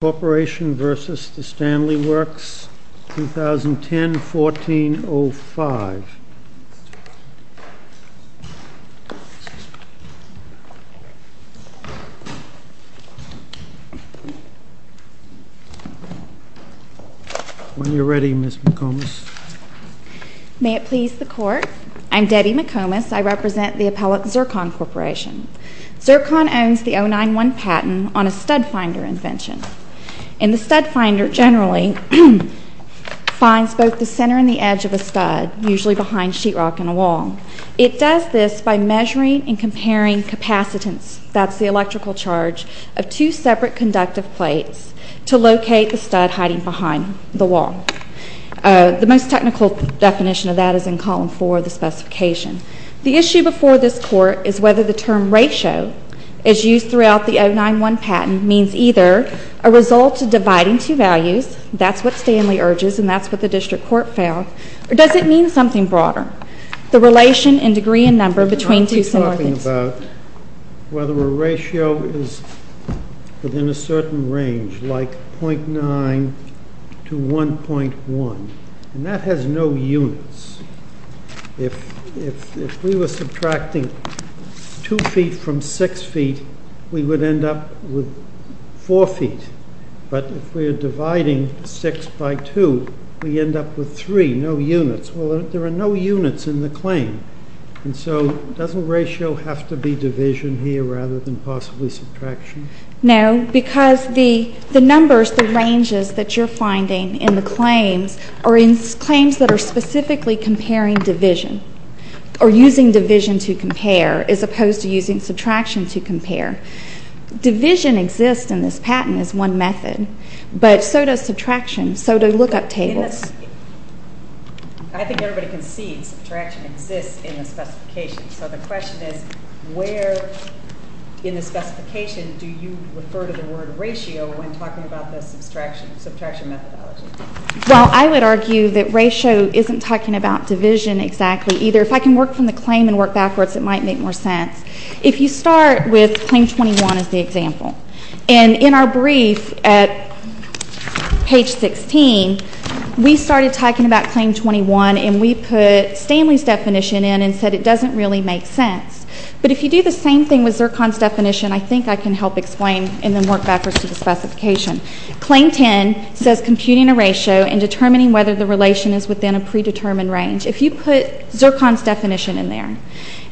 Corporation v. The Stanley Works, 2010-14-05 When you're ready, Ms. McComas. May it please the Court, I'm Debbie McComas. I represent the appellate Zircon Corporation. Zircon owns the 091 patent on a stud finder invention. And the stud finder generally finds both the center and the edge of a stud, usually behind sheetrock in a wall. It does this by measuring and comparing capacitance, that's the electrical charge, of two separate conductive plates to locate the stud hiding behind the wall. The most technical definition of that is in column 4 of the specification. The issue before this Court is whether the term ratio, as used throughout the 091 patent, means either a result of dividing two values, that's what Stanley urges and that's what the District Court found, or does it mean something broader? The relation in degree and number between two similar things. It's about whether a ratio is within a certain range, like 0.9 to 1.1, and that has no units. If we were subtracting 2 feet from 6 feet, we would end up with 4 feet. But if we're dividing 6 by 2, we end up with 3, no units. Well, there are no units in the claim, and so doesn't ratio have to be division here rather than possibly subtraction? No, because the numbers, the ranges that you're finding in the claims are in claims that are specifically comparing division, or using division to compare, as opposed to using subtraction to compare. Division exists in this patent as one method, but so does subtraction, so do lookup tables. I think everybody can see subtraction exists in the specification, so the question is, where in the specification do you refer to the word ratio when talking about the subtraction methodology? Well, I would argue that ratio isn't talking about division exactly either. If I can work from the claim and work backwards, it might make more sense. If you start with claim 21 as the example, and in our brief at page 16, we started talking about claim 21, and we put Stanley's definition in and said it doesn't really make sense. But if you do the same thing with Zircon's definition, I think I can help explain and then work backwards to the specification. Claim 10 says computing a ratio and determining whether the relation is within a predetermined range. If you put Zircon's definition in there,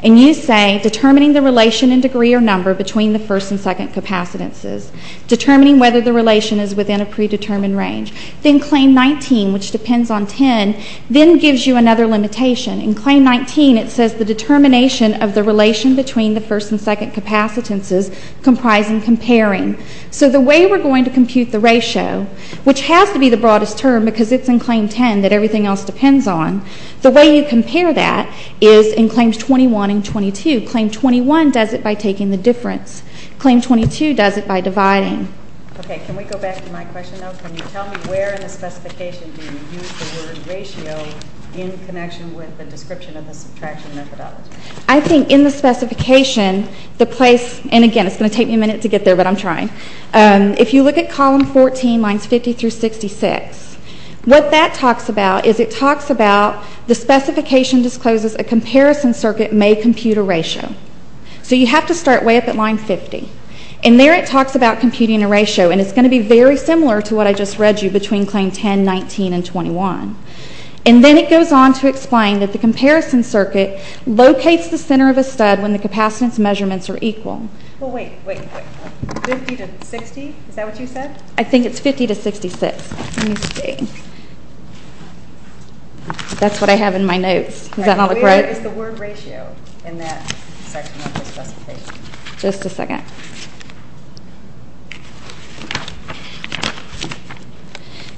and you say determining the relation in degree or number between the first and second capacitances, determining whether the relation is within a predetermined range, then claim 19, which depends on 10, then gives you another limitation. In claim 19, it says the determination of the relation between the first and second capacitances comprise in comparing. So the way we're going to compute the ratio, which has to be the broadest term because it's in claim 10 that everything else depends on, the way you compare that is in claims 21 and 22. Claim 21 does it by taking the difference. Claim 22 does it by dividing. Okay, can we go back to my question now? Can you tell me where in the specification do you use the word ratio in connection with the description of the subtraction methodology? I think in the specification, the place, and again, it's going to take me a minute to get there, but I'm trying. If you look at column 14, lines 50 through 66, what that talks about is it talks about the specification discloses a comparison circuit may compute a ratio. So you have to start way up at line 50. In there, it talks about computing a ratio, and it's going to be very similar to what I just read you between claim 10, 19, and 21. And then it goes on to explain that the comparison circuit locates the center of a stud when the capacitance measurements are equal. Well, wait, wait, wait, 50 to 60, is that what you said? I think it's 50 to 66. Let me see. That's what I have in my notes. Does that not look right? Where is the word ratio in that section of the specification? Just a second.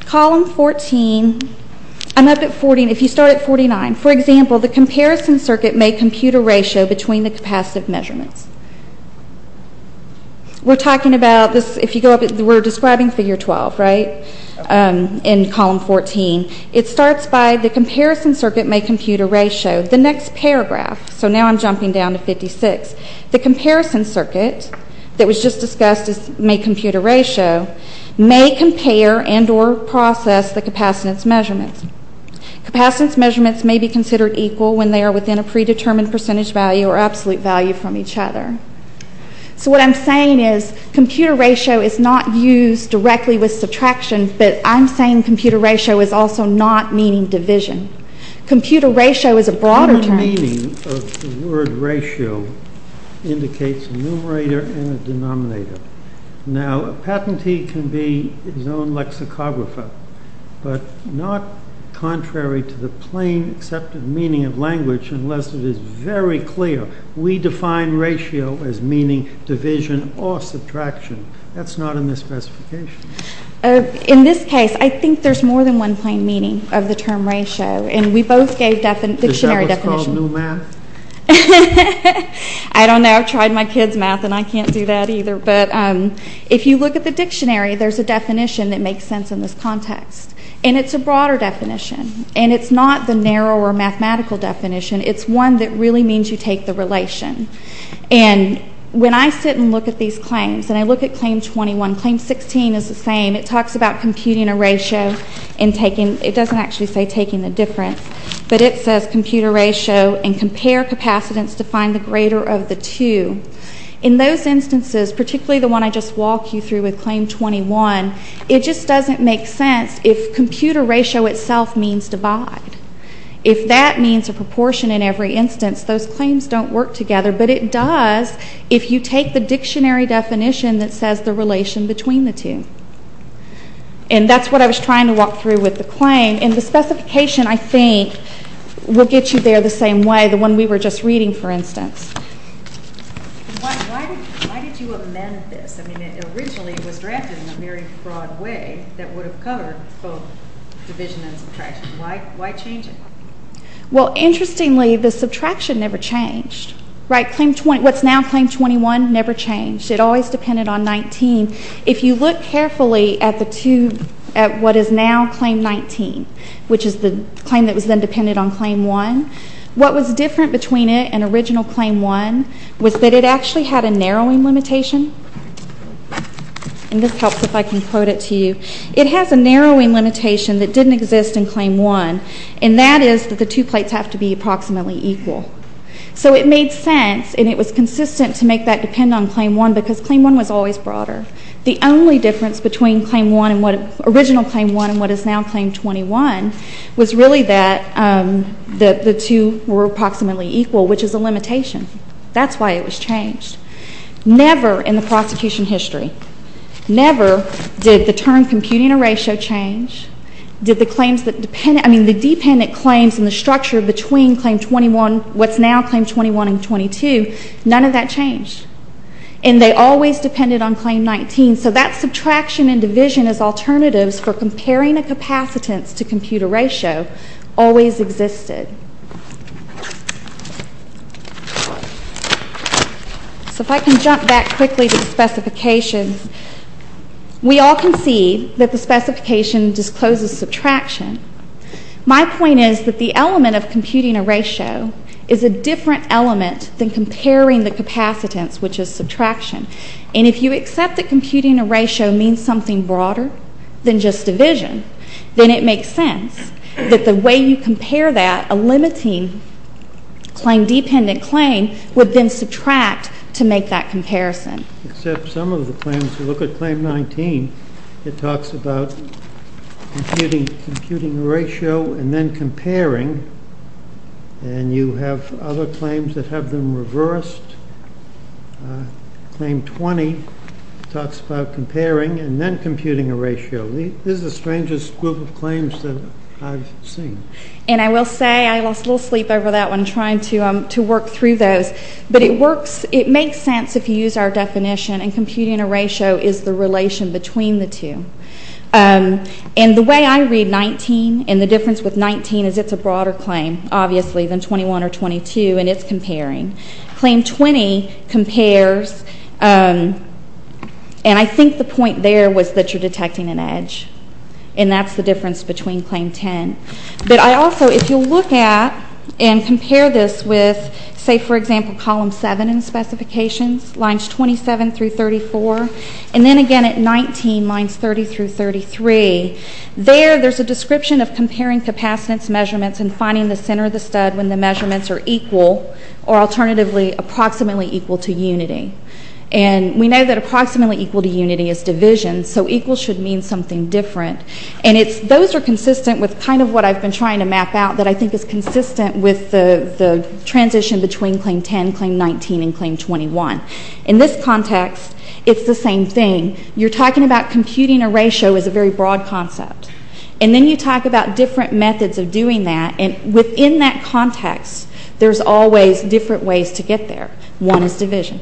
Column 14, I'm up at 40, and if you start at 49, for example, the comparison circuit may compute a ratio between the capacitive measurements. We're talking about this, if you go up, we're describing figure 12, right, in column 14. It starts by the comparison circuit may compute a ratio. The next paragraph, so now I'm jumping down to 56. The comparison circuit that was just discussed as may compute a ratio may compare and or process the capacitance measurements. Capacitance measurements may be considered equal when they are within a predetermined percentage value or absolute value from each other. So what I'm saying is computer ratio is not used directly with subtraction, but I'm saying computer ratio is also not meaning division. Computer ratio is a broader term. The meaning of the word ratio indicates a numerator and a denominator. Now, a patentee can be his own lexicographer, but not contrary to the plain accepted meaning of language unless it is very clear. We define ratio as meaning division or subtraction. That's not in this specification. In this case, I think there's more than one plain meaning of the term ratio, and we both gave dictionary definitions. Is that what's called new math? I don't know. I've tried my kid's math, and I can't do that either, but if you look at the dictionary, there's a definition that makes sense in this context, and it's a broader definition, and it's not the narrow or mathematical definition. It's one that really means you take the relation, and when I sit and look at these claims, and I look at claim 21, claim 16 is the same. It talks about computing a ratio and taking, it doesn't actually say taking the difference, but it says computer ratio and compare capacitance to find the greater of the two. In those instances, particularly the one I just walked you through with claim 21, it just doesn't make sense if computer ratio itself means divide. If that means a proportion in every instance, those claims don't work together, but it does if you take the dictionary definition that says the relation between the two, and that's what I was trying to walk through with the claim, and the specification I think will get you there the same way, the one we were just reading, for instance. Why did you amend this? I mean, it originally was drafted in a very broad way that would have covered both division and subtraction. Why change it? Well, interestingly, the subtraction never changed. Right? What's now claim 21 never changed. It always depended on 19. If you look carefully at the two, at what is now claim 19, which is the claim that was then dependent on claim 1, what was different between it and original claim 1 was that it actually had a narrowing limitation, and this helps if I can quote it to you. It has a narrowing limitation that didn't exist in claim 1, and that is that the two plates have to be approximately equal. So it made sense, and it was consistent to make that depend on claim 1 because claim 1 was always broader. The only difference between claim 1 and what, original claim 1 and what is now claim 21, was really that the two were approximately equal, which is a limitation. That's why it was changed. Never in the prosecution history, never did the term computing a ratio change, did the claims that depended, I mean the dependent claims and the structure between claim 21, what's now claim 21 and 22, none of that changed, and they always depended on claim 19. So that subtraction and division as alternatives for comparing a capacitance to compute a ratio always existed. So if I can jump back quickly to the specifications, we all can see that the specification discloses subtraction. My point is that the element of computing a ratio is a different element than comparing the capacitance, which is subtraction. And if you accept that computing a ratio means something broader than just division, then it makes sense that the way you compare that, a limiting claim, dependent claim, would then subtract to make that comparison. Except some of the claims, if you look at claim 19, it talks about computing a ratio and then comparing. And you have other claims that have them reversed. Claim 20 talks about comparing and then computing a ratio. This is the strangest group of claims that I've seen. And I will say, I lost a little sleep over that one trying to work through those, but it works, it makes sense if you use our definition and computing a ratio is the relation between the two. And the way I read 19 and the difference with 19 is it's a broader claim, obviously, than 21 or 22, and it's comparing. Claim 20 compares, and I think the point there was that you're detecting an edge. And that's the difference between claim 10. But I also, if you look at and compare this with, say, for example, column 7 in specifications, lines 27 through 34, and then again at 19, lines 30 through 33, there there's a description of comparing capacitance measurements and finding the center of the stud when the measurements are equal, or alternatively, approximately equal to unity. And we know that approximately equal to unity is division, so equal should mean something different. And it's, those are consistent with kind of what I've been trying to map out that I think is consistent with the transition between claim 10, claim 19, and claim 21. In this context, it's the same thing. You're talking about computing a ratio as a very broad concept, and then you talk about different methods of doing that, and within that context, there's always different ways to get there. One is division.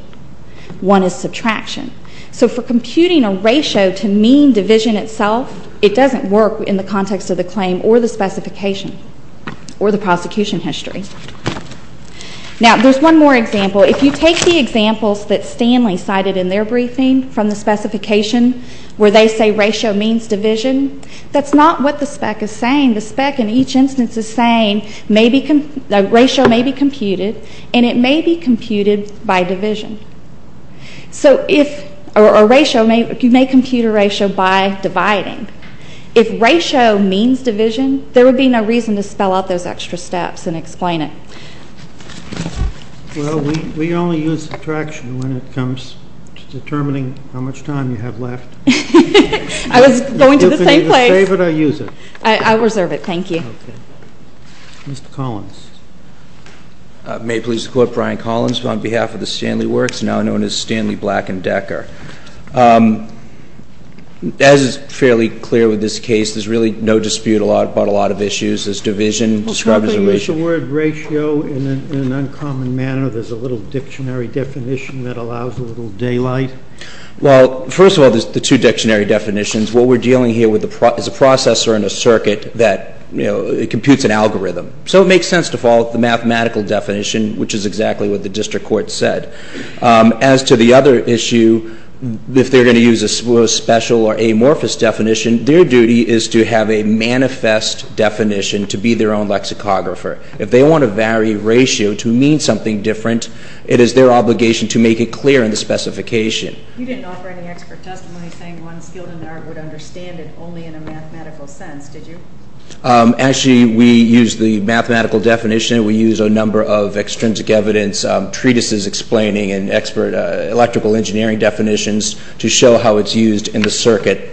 One is subtraction. So for computing a ratio to mean division itself, it doesn't work in the context of the claim or the specification or the prosecution history. Now, there's one more example. If you take the examples that Stanley cited in their briefing from the specification where they say ratio means division, that's not what the spec is saying. The spec in each instance is saying maybe, the ratio may be computed, and it may be computed by division. So if, or a ratio may, you may compute a ratio by dividing. If ratio means division, there would be no reason to spell out those extra steps and explain it. Well, we only use subtraction when it comes to determining how much time you have left. I was going to the same place. You can either save it or use it. I reserve it, thank you. Okay. Mr. Collins. May it please the Court, Brian Collins, on behalf of the Stanley Work Group, now known as Stanley Black and Decker. As is fairly clear with this case, there's really no dispute about a lot of issues. There's division described as a ratio. Well, something is a word ratio in an uncommon manner. There's a little dictionary definition that allows a little daylight. Well, first of all, there's the two dictionary definitions. What we're dealing here with is a processor in a circuit that, you know, it computes an algorithm. So it makes sense to follow the mathematical definition, which is exactly what the district court said. As to the other issue, if they're going to use a special or amorphous definition, their duty is to have a manifest definition to be their own lexicographer. If they want to vary ratio to mean something different, it is their obligation to make it clear in the specification. You didn't offer any expert testimony saying one skilled in the art would understand it only in a mathematical sense, did you? Actually, we use the mathematical definition. We use a number of extrinsic evidence, treatises explaining and expert electrical engineering definitions to show how it's used in the circuit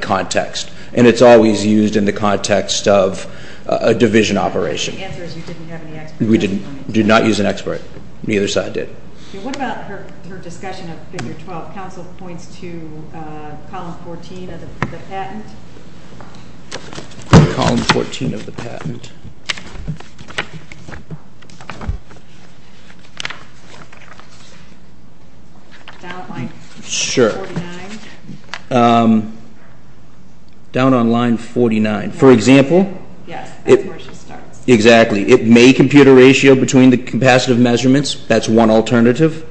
context. And it's always used in the context of a division operation. The answer is you didn't have any expert testimony. We did not use an expert. Neither side did. And what about her discussion of Figure 12? Council points to Column 14 of the patent. Column 14 of the patent. Down on line 49. Down on line 49. For example. Yes, that's where she starts. Exactly. It may compute a ratio between the capacitive measurements. That's one alternative.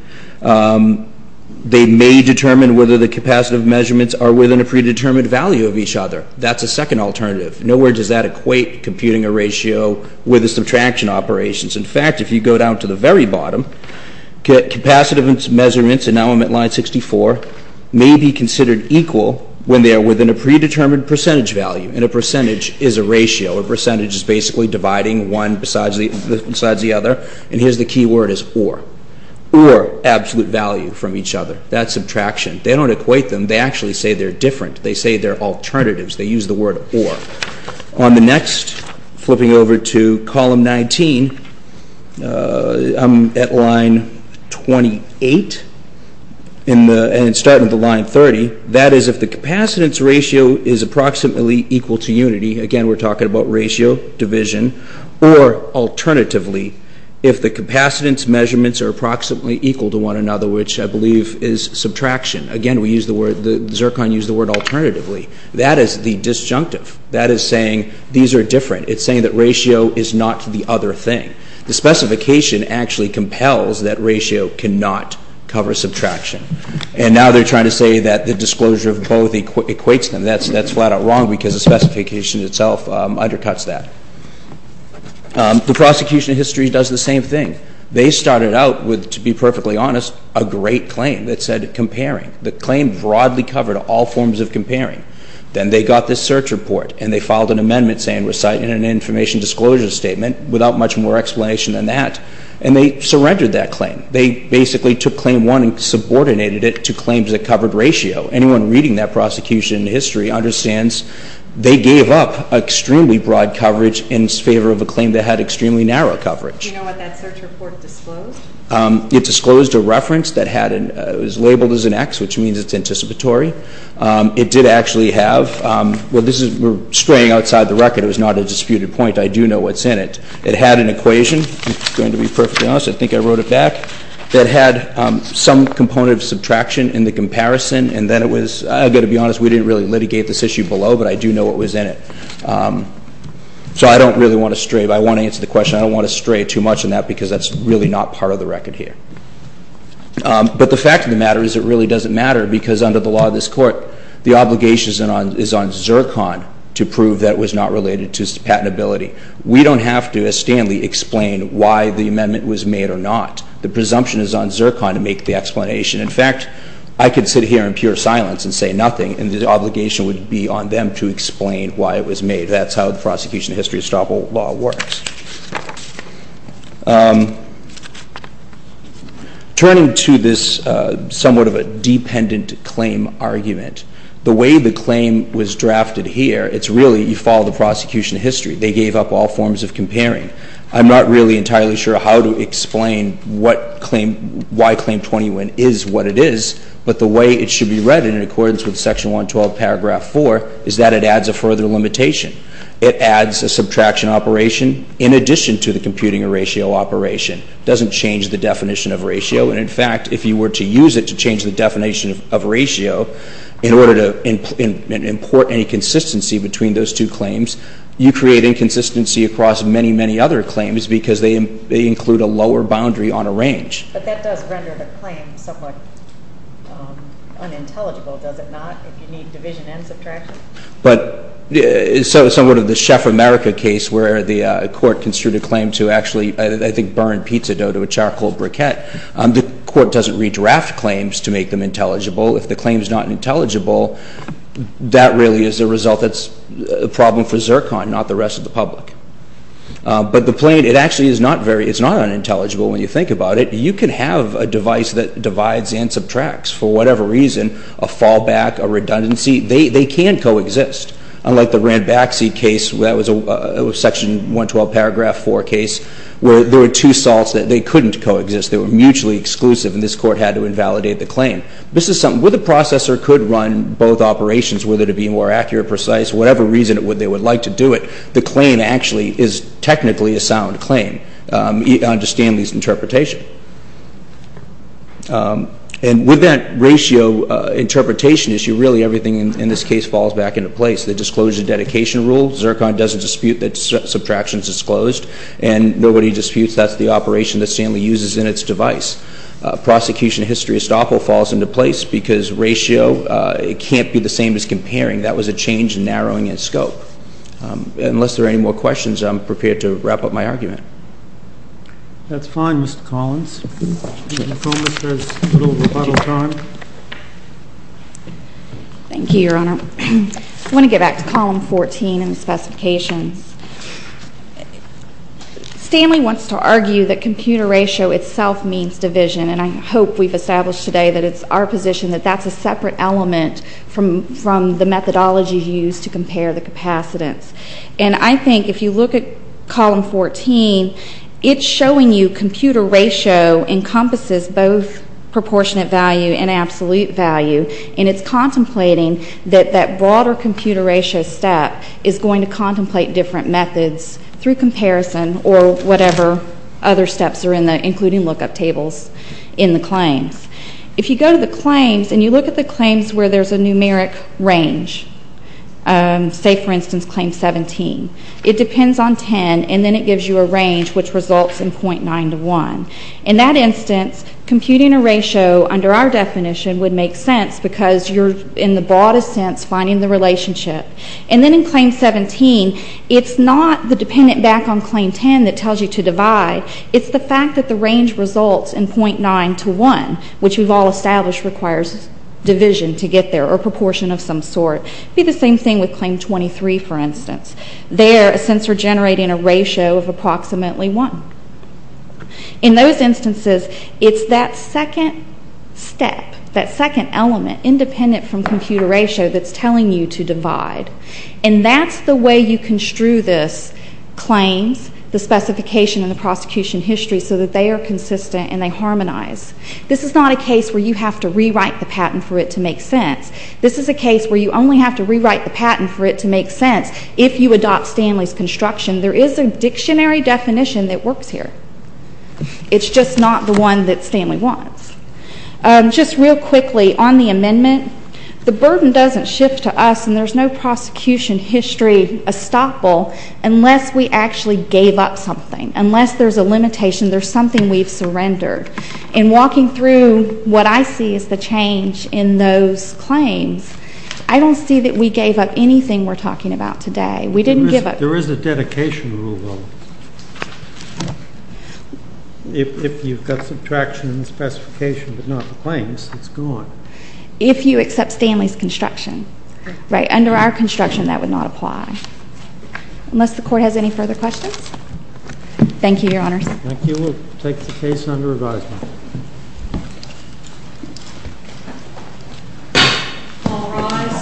They may determine whether the capacitive measurements are within a predetermined value of each other. That's a second alternative. Nowhere does that equate computing a ratio with a subtraction operations. In fact, if you go down to the very bottom, capacitive measurements and now I'm at line 64, may be considered equal when they are within a predetermined percentage value. And a percentage is a ratio. A percentage is basically dividing one besides the other. And here's the key word is or. Or absolute value from each other. That's subtraction. They don't equate them. They actually say they're different. They say they're alternatives. They use the word or. On the next, flipping over to Column 19, I'm at line 28. And starting at the line 30. That is if the capacitance ratio is approximately equal to unity. Again, we're talking about ratio, division. Or alternatively, if the capacitance measurements are approximately equal to one another, which I believe is subtraction. Again, we use the word, Zircon used the word alternatively. That is the disjunctive. That is saying these are different. It's saying that ratio is not the other thing. The specification actually compels that ratio cannot cover subtraction. And now they're trying to say that the disclosure of both equates them. That's flat out wrong because the specification itself undercuts that. The prosecution of history does the same thing. They started out with, to be perfectly honest, a great claim that said comparing. The claim broadly covered all forms of comparing. Then they got this search report and they filed an amendment saying reciting an information disclosure statement without much more explanation than that. And they surrendered that claim. They basically took claim one and subordinated it to claims that covered ratio. Anyone reading that prosecution in history understands they gave up extremely broad coverage in favor of a claim that had extremely narrow coverage. Do you know what that search report disclosed? It disclosed a reference that was labeled as an X, which means it's anticipatory. It did actually have, well, we're straying outside the record. It was not a disputed point. I do know what's in it. It had an equation, to be perfectly honest, I think I wrote it back, that had some component of subtraction in the comparison. And then it was, I've got to be honest, we didn't really litigate this issue below, but I do know what was in it. So I don't really want to stray, but I want to answer the question. I don't want to stray too much on that because that's really not part of the record here. But the fact of the matter is it really doesn't matter because under the law of this court, the obligation is on Zircon to prove that was not related to patentability. We don't have to, as Stanley explained, why the amendment was made or not. The presumption is on Zircon to make the explanation. In fact, I could sit here in pure silence and say nothing, and the obligation would be on them to explain why it was made. That's how the prosecution of history estoppel law works. Turning to this somewhat of a dependent claim argument, the way the claim was drafted here, it's really you follow the prosecution of history. They gave up all forms of comparing. I'm not really entirely sure how to explain what claim, why Claim 21 is what it is, but the way it should be read in accordance with Section 112, Paragraph 4, is that it adds a further limitation. It adds a subtraction operation in addition to the computing a ratio operation. It doesn't change the definition of ratio. And, in fact, if you were to use it to change the definition of ratio in order to import any consistency between those two claims, you create inconsistency across many, many other claims because they include a lower boundary on a range. But that does render the claim somewhat unintelligible, does it not? If you need division and subtraction. But somewhat of the Chef America case where the court construed a claim to actually, I think, burn pizza dough to a charcoal briquette, the court doesn't redraft claims to make them intelligible. If the claim is not intelligible, that really is a result that's a problem for Zircon, not the rest of the public. But the plain, it actually is not unintelligible when you think about it. You can have a device that divides and subtracts for whatever reason, a fall back, a redundancy. They can co-exist. Unlike the Ranbaxy case, that was a section 112 paragraph 4 case, where there were two salts that they couldn't co-exist. They were mutually exclusive, and this court had to invalidate the claim. This is something, where the processor could run both operations, whether to be more accurate, precise, whatever reason they would like to do it, the claim actually is technically a sound claim. You understand these interpretations. And with that ratio interpretation issue, really everything in this case falls back into place. The disclosure dedication rule, Zircon doesn't dispute that subtraction is disclosed, and nobody disputes that's the operation that Stanley uses in its device. Prosecution history estoppel falls into place, because ratio, it can't be the same as comparing. That was a change in narrowing in scope. Unless there are any more questions, I'm prepared to wrap up my argument. That's fine, Mr. Collins. Thank you, Your Honor. I want to get back to column 14 and the specifications. Stanley wants to argue that computer ratio itself means division, and I hope we've established today that it's our position that that's a separate element from the methodology used to compare the capacitance. And I think if you look at column 14, it's showing you computer ratio encompasses both proportionate value and absolute value, and it's contemplating that that broader computer ratio step is going to contemplate different methods through comparison or whatever other steps are in there, including lookup tables in the claims. If you go to the claims and you look at the claims where there's a numeric range, say, for instance, claim 17, it depends on 10, and then it gives you a range which results in .9 to 1. In that instance, computing a ratio under our definition would make sense, because you're, in the broadest sense, finding the relationship. And then in claim 17, it's not the dependent back on claim 10 that tells you to divide. It's the fact that the range results in .9 to 1, which we've all established requires division to get there or proportion of some sort. It would be the same thing with claim 23, for instance. There, since we're generating a ratio of approximately 1. In those instances, it's that second step, that second element, independent from computer ratio, that's telling you to divide. And that's the way you construe this claims, the specification and the prosecution history, so that they are consistent and they harmonize. This is not a case where you have to rewrite the patent for it to make sense. This is a case where you only have to rewrite the patent for it to make sense if you adopt Stanley's construction. There is a dictionary definition that works here. It's just not the one that Stanley wants. Just real quickly, on the amendment, the burden doesn't shift to us, and there's no prosecution history estoppel unless we actually gave up something. Unless there's a limitation, there's something we've surrendered. In walking through what I see as the change in those claims, I don't see that we gave up anything we're talking about today. We didn't give up. There is a dedication rule, though. If you've got subtraction and specification but not the claims, it's gone. If you accept Stanley's construction. Right. Under our construction, that would not apply. Unless the Court has any further questions? Thank you, Your Honors. Thank you. We'll take the case under advisement. All rise.